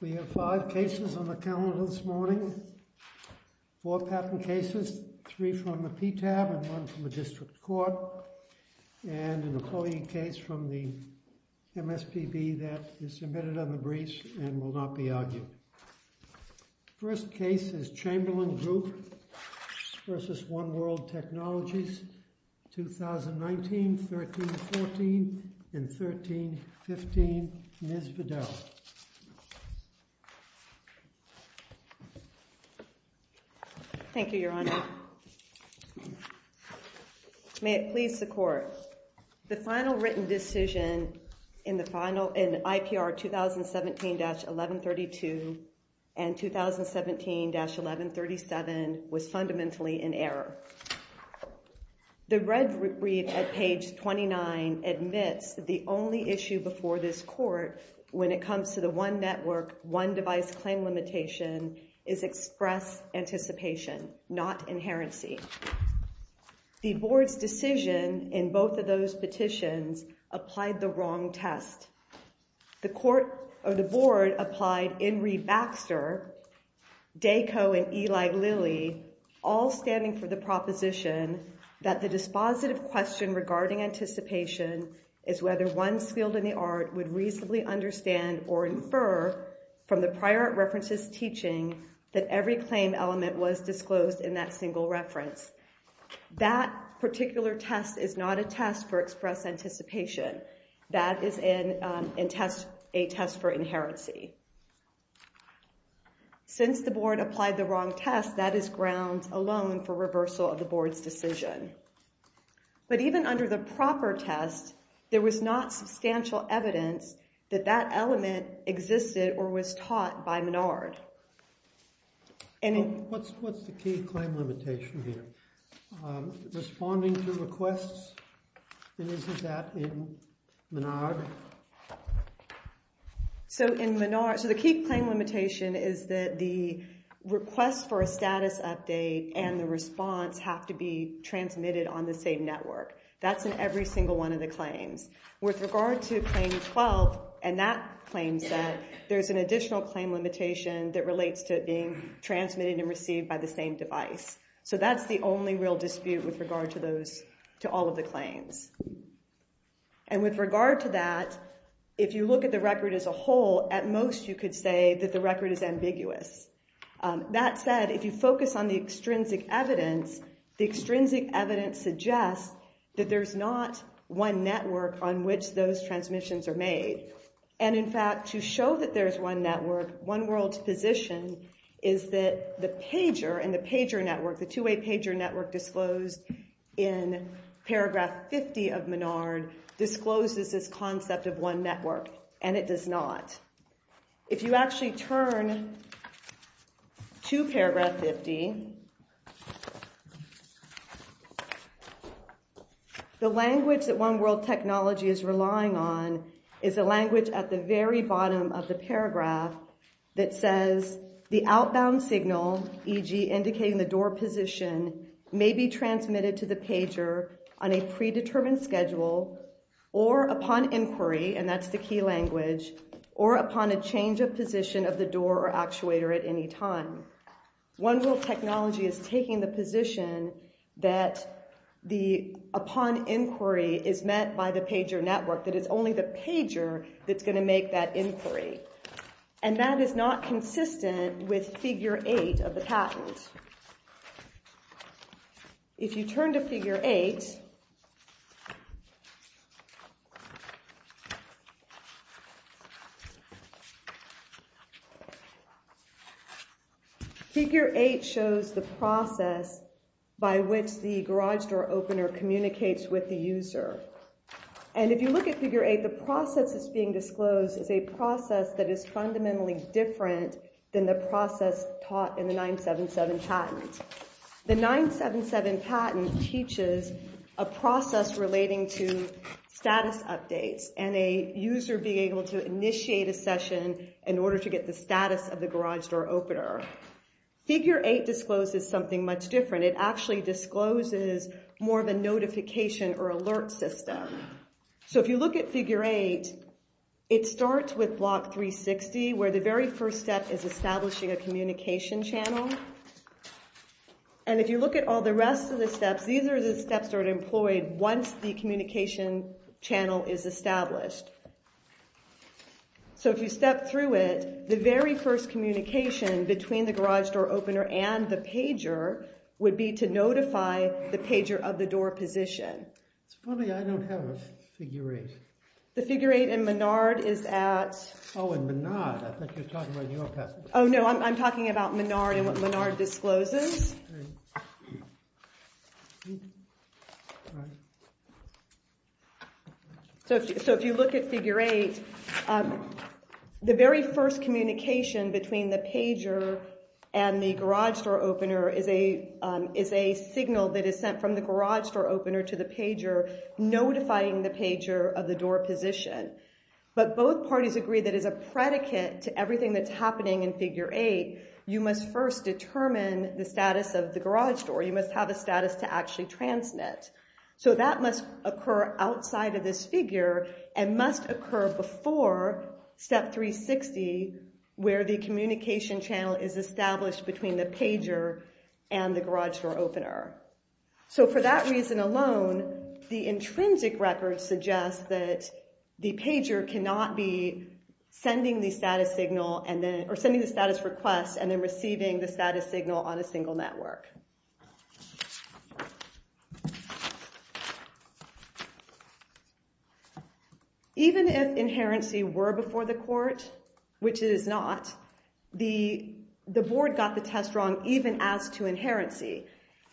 We have five cases on the calendar this morning, four patent cases, three from the PTAB and one from the District Court, and an employee case from the MSPB that is submitted on the briefs and will not be argued. The first case is Chamberlain Group v. One World Technologies, 2019, 13-14, and 13-15. Ms. Bedell. Thank you, Your Honor. May it please the Court. The final written decision in IPR 2017-1132 and 2017-1137 was fundamentally in error. The red brief at page 29 admits that the only issue before this Court when it comes to the one network, one device claim limitation is express anticipation, not inherency. The Board's decision in both of those petitions applied the wrong test. The Board applied Inree Baxter, Dayco, and Eli Lilly, all standing for the proposition that the dispositive question regarding anticipation is whether one skilled in the art would reasonably understand or infer from the prior references teaching that every claim element was disclosed in that single reference. That particular test is not a test for express anticipation. That is a test for inherency. Since the Board applied the wrong test, that is ground alone for reversal of the Board's decision. But even under the proper test, there was not substantial evidence that that element existed or was taught by Menard. What's the key claim limitation here? Responding to requests? And is that in Menard? So in Menard, the key claim limitation is that the request for a status update and the response have to be transmitted on the same network. That's in every single one of the claims. With regard to Claim 12, and that claim set, there's an additional claim limitation that relates to it being transmitted and received by the same device. So that's the only real dispute with regard to all of the claims. And with regard to that, if you look at the record as a whole, at most you could say that the record is ambiguous. That said, if you focus on the extrinsic evidence, the extrinsic evidence suggests that there's not one network on which those transmissions are made. And in fact, to show that there's one network, one world's position is that the pager and the pager network, the two-way pager network disclosed in paragraph 50 of Menard discloses this concept of one network. And it does not. If you actually turn to paragraph 50, the language that One World Technology is relying on is a language at the very bottom of the paragraph that says, the outbound signal, e.g. indicating the door position, may be transmitted to the pager on a predetermined schedule or upon inquiry, and that's the key language, or upon a change of position of the door or actuator at any time. One World Technology is taking the position that the upon inquiry is met by the pager network, that it's only the pager that's going to make that inquiry. And that is not consistent with figure eight of the patent. If you turn to figure eight, figure eight shows the process by which the garage door opener communicates with the user. And if you look at figure eight, the process that's being disclosed is a process that is The 977 patent teaches a process relating to status updates and a user being able to initiate a session in order to get the status of the garage door opener. Figure eight discloses something much different. It actually discloses more of a notification or alert system. So if you look at figure eight, it starts with block 360, where the very first step is establishing a communication channel. And if you look at all the rest of the steps, these are the steps that are employed once the communication channel is established. So if you step through it, the very first communication between the garage door opener and the pager would be to notify the pager of the door position. It's funny, I don't have a figure eight. The figure eight in Menard is at... Oh, in Menard. I think you're talking about your patent. Oh, no. I'm talking about Menard and what Menard discloses. So if you look at figure eight, the very first communication between the pager and the garage door opener is a signal that is sent from the garage door opener to the pager, notifying the pager of the door position. But both parties agree that as a predicate to everything that's happening in figure eight, you must first determine the status of the garage door. You must have a status to actually transmit. So that must occur outside of this figure and must occur before step 360, where the communication channel is established between the pager and the garage door opener. So for that reason alone, the intrinsic records suggest that the pager cannot be sending the status request and then receiving the status signal on a single network. Even if inherency were before the court, which it is not, the board got the test wrong even as to inherency.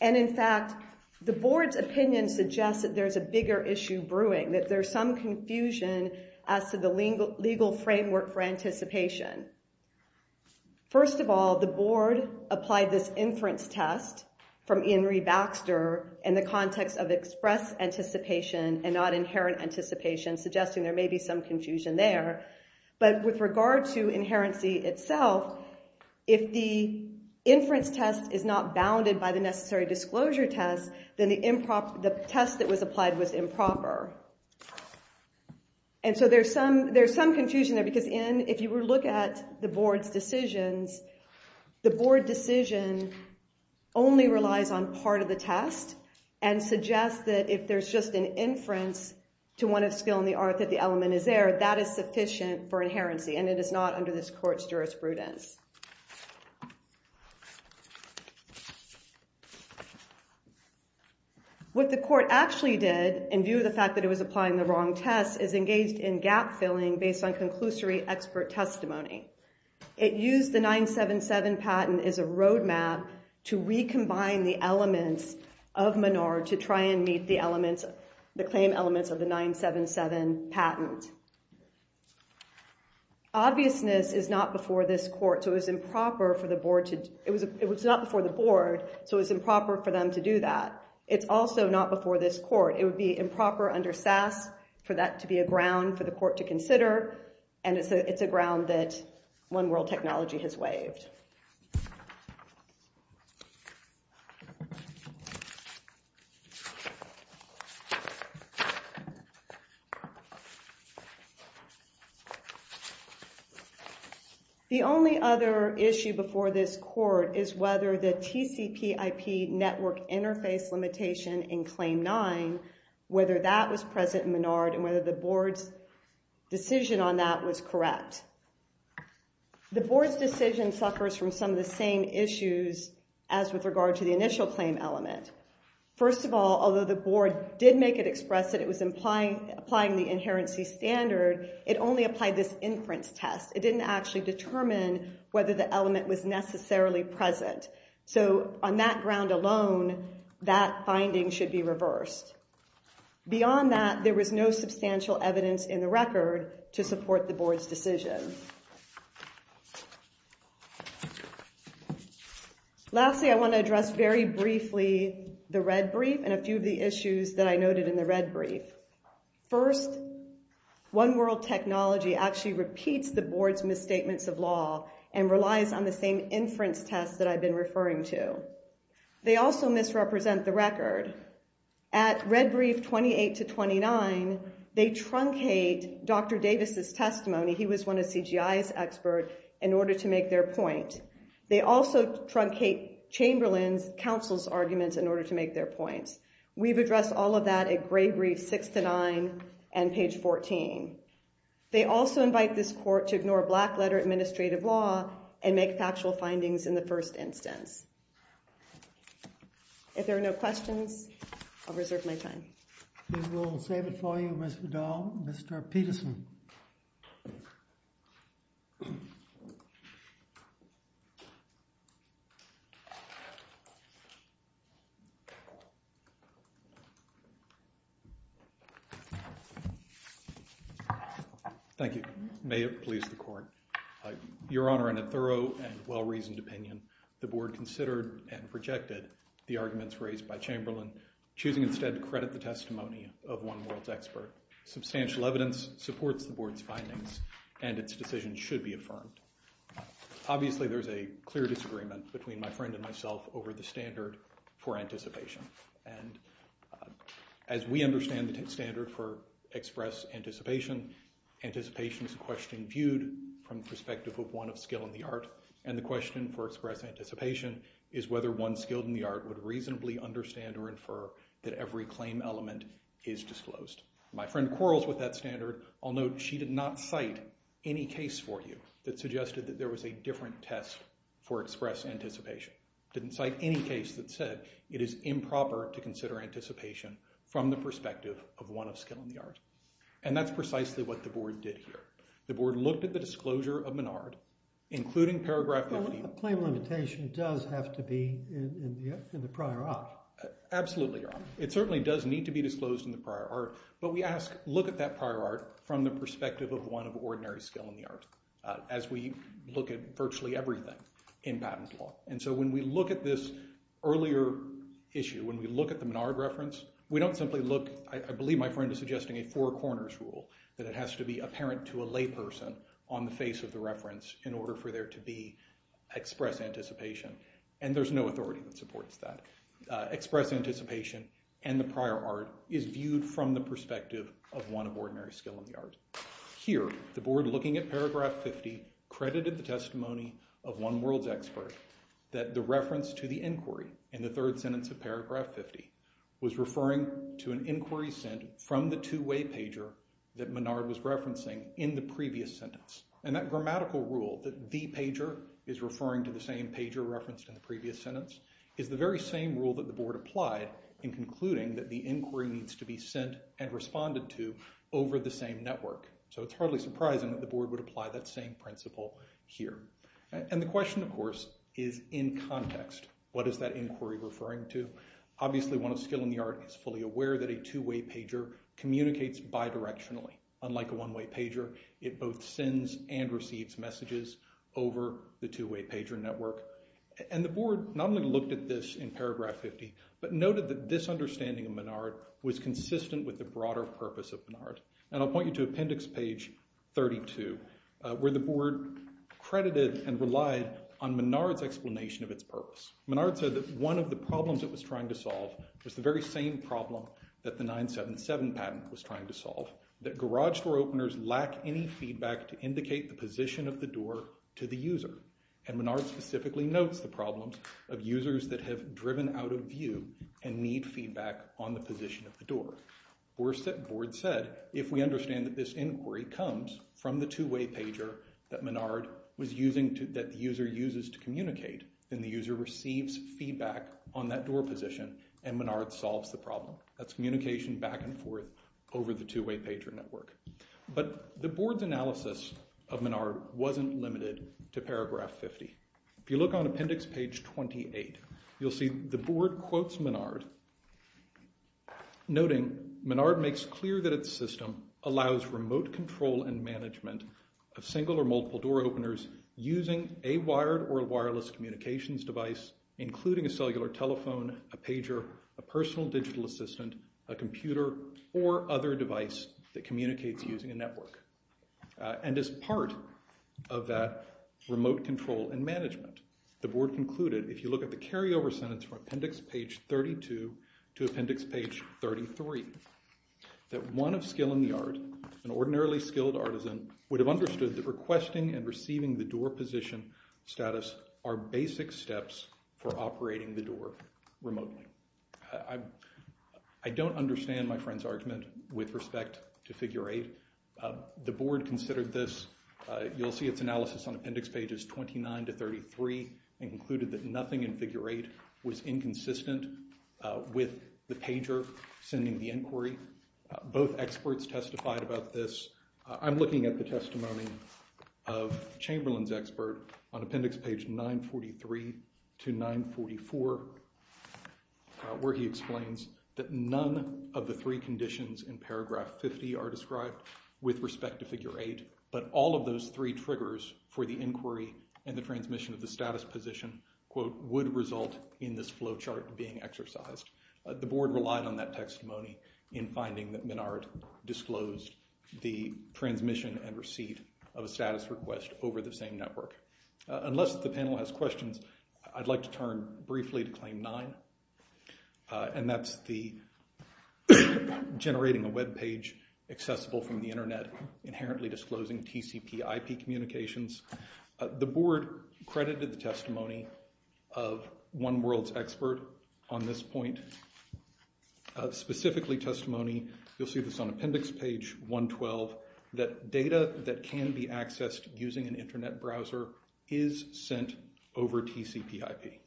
And in fact, the board's opinion suggests that there's a bigger issue brewing, that there's some confusion as to the legal framework for anticipation. First of all, the board applied this inference test from Iainry Baxter in the context of express anticipation and not inherent anticipation, suggesting there may be some confusion there. But with regard to inherency itself, if the inference test is not bounded by the necessary disclosure test, then the test that was applied was improper. And so there's some confusion there. Because if you were to look at the board's decisions, the board decision only relies on part of the test and suggests that if there's just an inference to one of skill and the element is there, that is sufficient for inherency. And it is not under this court's jurisprudence. What the court actually did, in view of the fact that it was applying the wrong test, is engaged in gap filling based on conclusory expert testimony. It used the 977 patent as a roadmap to recombine the elements of Menard to try and meet the patent. Obviousness is not before the board, so it was improper for them to do that. It's also not before this court. It would be improper under SAS for that to be a ground for the court to consider. And it's a ground that One World Technology has waived. The only other issue before this court is whether the TCPIP network interface limitation in Claim 9, whether that was present in Menard, and whether the board's decision on that was correct. The board's decision suffers from some of the same issues as with regard to the initial claim element. First of all, although the board did make it express that it was applying the inherency standard, it only applied this inference test. It didn't actually determine whether the element was necessarily present. So, on that ground alone, that finding should be reversed. Beyond that, there was no substantial evidence in the record to support the board's decision. Lastly, I want to address very briefly the red brief and a few of the issues that I noted in the red brief. First, One World Technology actually repeats the board's misstatements of law and relies on the same inference test that I've been referring to. They also misrepresent the record. At red brief 28 to 29, they truncate Dr. Davis' testimony. He was one of CGI's experts in order to make their point. They also truncate Chamberlain's counsel's arguments in order to make their points. We've addressed all of that at gray brief 6 to 9 and page 14. They also invite this court to ignore black letter administrative law and make factual findings in the first instance. If there are no questions, I'll reserve my time. We will save it for you, Ms. Vidal. Mr. Peterson. Thank you. May it please the court. Your Honor, in a thorough and well-reasoned opinion, the board considered and projected the arguments raised by Chamberlain, choosing instead to credit the testimony of One World's expert. Substantial evidence supports the board's findings, and its decision should be affirmed. Obviously, there's a clear disagreement between my friend and myself over the standard for anticipation, and as we understand the standard for express anticipation, anticipation is a question viewed from the perspective of one of skill in the art, and the question for express anticipation is whether one skilled in the art would reasonably understand or infer that every claim element is disclosed. My friend quarrels with that standard. I'll note she did not cite any case for you that suggested that there was a different test for express anticipation. Didn't cite any case that said it is improper to consider anticipation from the perspective of one of skill in the art, and that's precisely what the board did here. The board looked at the disclosure of Menard, including paragraph 15. A claim limitation does have to be in the prior art. Absolutely, Your Honor. It certainly does need to be disclosed in the prior art, but we ask, look at that prior art from the perspective of one of ordinary skill in the art, as we look at virtually everything in patent law, and so when we look at this earlier issue, when we look at the Menard reference, we don't simply look. I believe my friend is suggesting a four corners rule that it has to be apparent to a layperson on the face of the reference in order for there to be express anticipation, and there's no authority that supports that. Express anticipation and the prior art is viewed from the perspective of one of ordinary skill in the art. Here, the board, looking at paragraph 50, credited the testimony of one world's expert that the reference to the inquiry in the third sentence of paragraph 50 was referring to an inquiry sent from the two-way pager that Menard was referencing in the previous sentence, and that grammatical rule that the pager is referring to the same pager referenced in the previous sentence is the very same rule that the board applied in concluding that the inquiry needs to be sent and responded to over the same network, so it's hardly surprising that the board would apply that same principle here, and the question, of course, is in context. What is that inquiry referring to? Obviously, one of skill in the art is fully aware that a two-way pager communicates bidirectionally. Unlike a one-way pager, it both sends and receives messages over the two-way pager network, and the board not only looked at this in paragraph 50, but noted that this understanding of Menard was consistent with the broader purpose of Menard, and I'll point you to appendix page 32, where the board credited and relied on Menard's explanation of its purpose. Menard said that one of the problems it was trying to solve was the very same problem that the 977 patent was trying to solve, that garage door openers lack any feedback to indicate the position of the door to the user, and Menard specifically notes the problems of users that have driven out of view and need feedback on the position of the door. Worse, the board said, if we understand that this inquiry comes from the two-way pager that Menard was using, that the user uses to communicate, then the user receives feedback on that door position, and Menard solves the problem. That's communication back and forth over the two-way pager network. But the board's analysis of Menard wasn't limited to paragraph 50. If you look on appendix page 28, you'll see the board quotes Menard, noting, Menard makes clear that its system allows remote control and management of single or multiple door openers using a wired or wireless communications device, including a cellular telephone, a pager, a personal digital assistant, a computer, or other device that communicates using a network. And as part of that remote control and management, the board concluded, if you look at the carryover sentence from appendix page 32 to appendix page 33, that one of skill in the art, an ordinarily skilled artisan, would have understood that requesting and receiving the door position status are basic steps for operating the door remotely. I don't understand my friend's argument with respect to figure 8. The board considered this. You'll see its analysis on appendix pages 29 to 33 and concluded that nothing in figure 8 was inconsistent with the pager sending the inquiry. Both experts testified about this. I'm looking at the testimony of Chamberlain's expert on appendix page 943 to 944, where he explains that none of the three conditions in paragraph 50 are described with respect to figure 8, but all of those three triggers for the inquiry and the transmission of the status position, quote, would result in this flowchart being exercised. The board relied on that testimony in finding that Menard disclosed the transmission and receipt of a status request over the same network. Unless the panel has questions, I'd like to turn briefly to claim 9, and that's the generating a web page accessible from the Internet, inherently disclosing TCP IP communications. The board credited the testimony of One World's expert on this point, specifically testimony, you'll see this on appendix page 112, that data that can be accessed using an Internet browser is sent over TCP IP.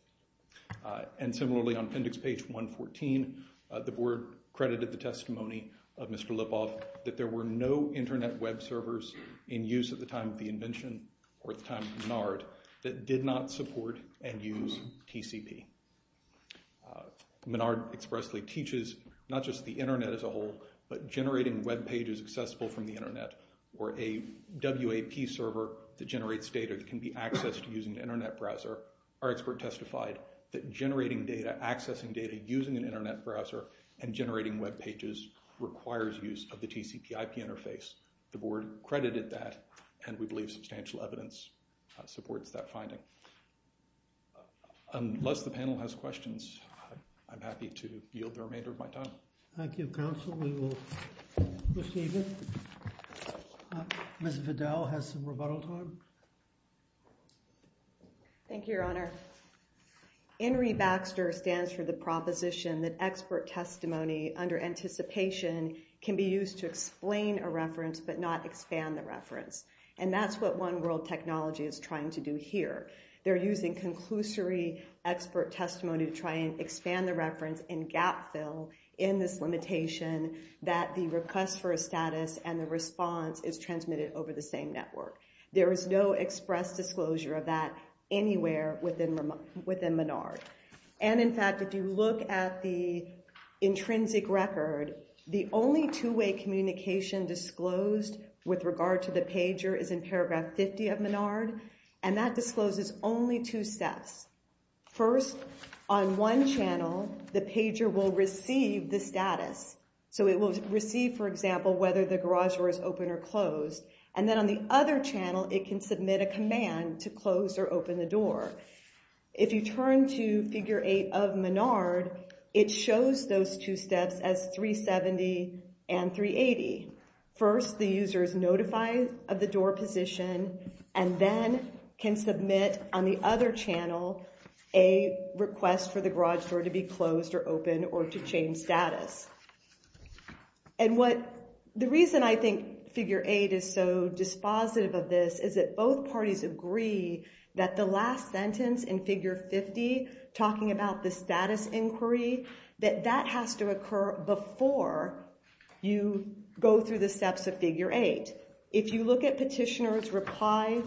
And similarly on appendix page 114, the board credited the testimony of Mr. Lipov that there were no Internet web servers in use at the time of the invention or at the time of Menard that did not support and use TCP. Menard expressly teaches not just the Internet as a whole, but generating web pages accessible from the Internet or a WAP server that generates data that can be accessed using an Internet browser. Our expert testified that generating data, accessing data using an Internet browser and generating web pages requires use of the TCP IP interface. The board credited that, and we believe substantial evidence supports that finding. Unless the panel has questions, I'm happy to yield the remainder of my time. Thank you, counsel. We will proceed. Ms. Vidal has some rebuttal time. Thank you, Your Honor. Henry Baxter stands for the proposition that expert testimony under anticipation can be used to explain a reference but not expand the reference. And that's what One World Technology is trying to do here. They're using conclusory expert testimony to try and expand the reference and gap fill in this limitation that the request for a status and the response is transmitted over the same network. There is no express disclosure of that anywhere within Menard. And in fact, if you look at the intrinsic record, the only two-way communication disclosed with regard to the pager is in paragraph 50 of Menard, and that discloses only two steps. First, on one channel, the pager will receive the status. So it will receive, for example, whether the garage door is open or closed. And then on the other channel, it can submit a command to close or open the door. If you turn to figure 8 of Menard, it shows those two steps as 370 and 380. First, the user is notified of the door position and then can submit on the other channel a request for the garage door to be closed or open or to change status. And the reason I think figure 8 is so dispositive of this is that both parties agree that the last sentence in figure 50, talking about the status inquiry, that that has to occur before you go through the steps of figure 8. If you look at petitioner's reply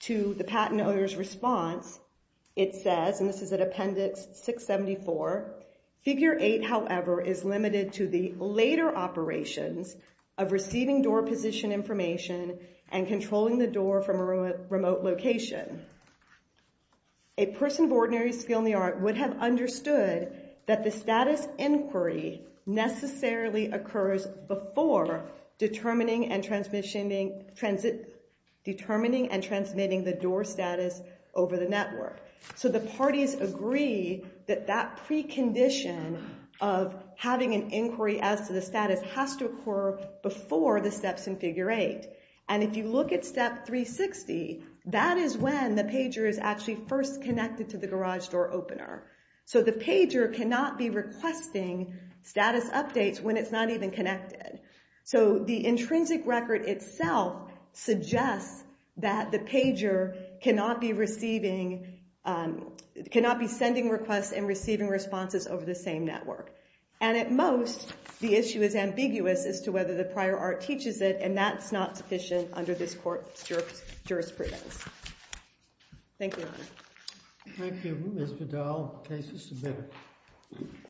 to the patent owner's response, it says, and this is at appendix 674, figure 8, however, is limited to the later operations of receiving door position information and controlling the door from a remote location. A person of ordinary skill in the art would have understood that the status inquiry necessarily occurs before determining and transmitting the door status over the network. So the parties agree that that precondition of having an inquiry as to the status has to occur before the steps in figure 8. And if you look at step 360, that is when the pager is actually first connected to the garage door opener. So the pager cannot be requesting status updates when it's not even connected. So the intrinsic record itself suggests that the pager cannot be sending requests and receiving responses over the same network. And at most, the issue is ambiguous as to whether the prior art teaches it, and that's not sufficient under this court's jurisprudence. Thank you, Your Honor. Thank you. Ms. Vidal, case is submitted.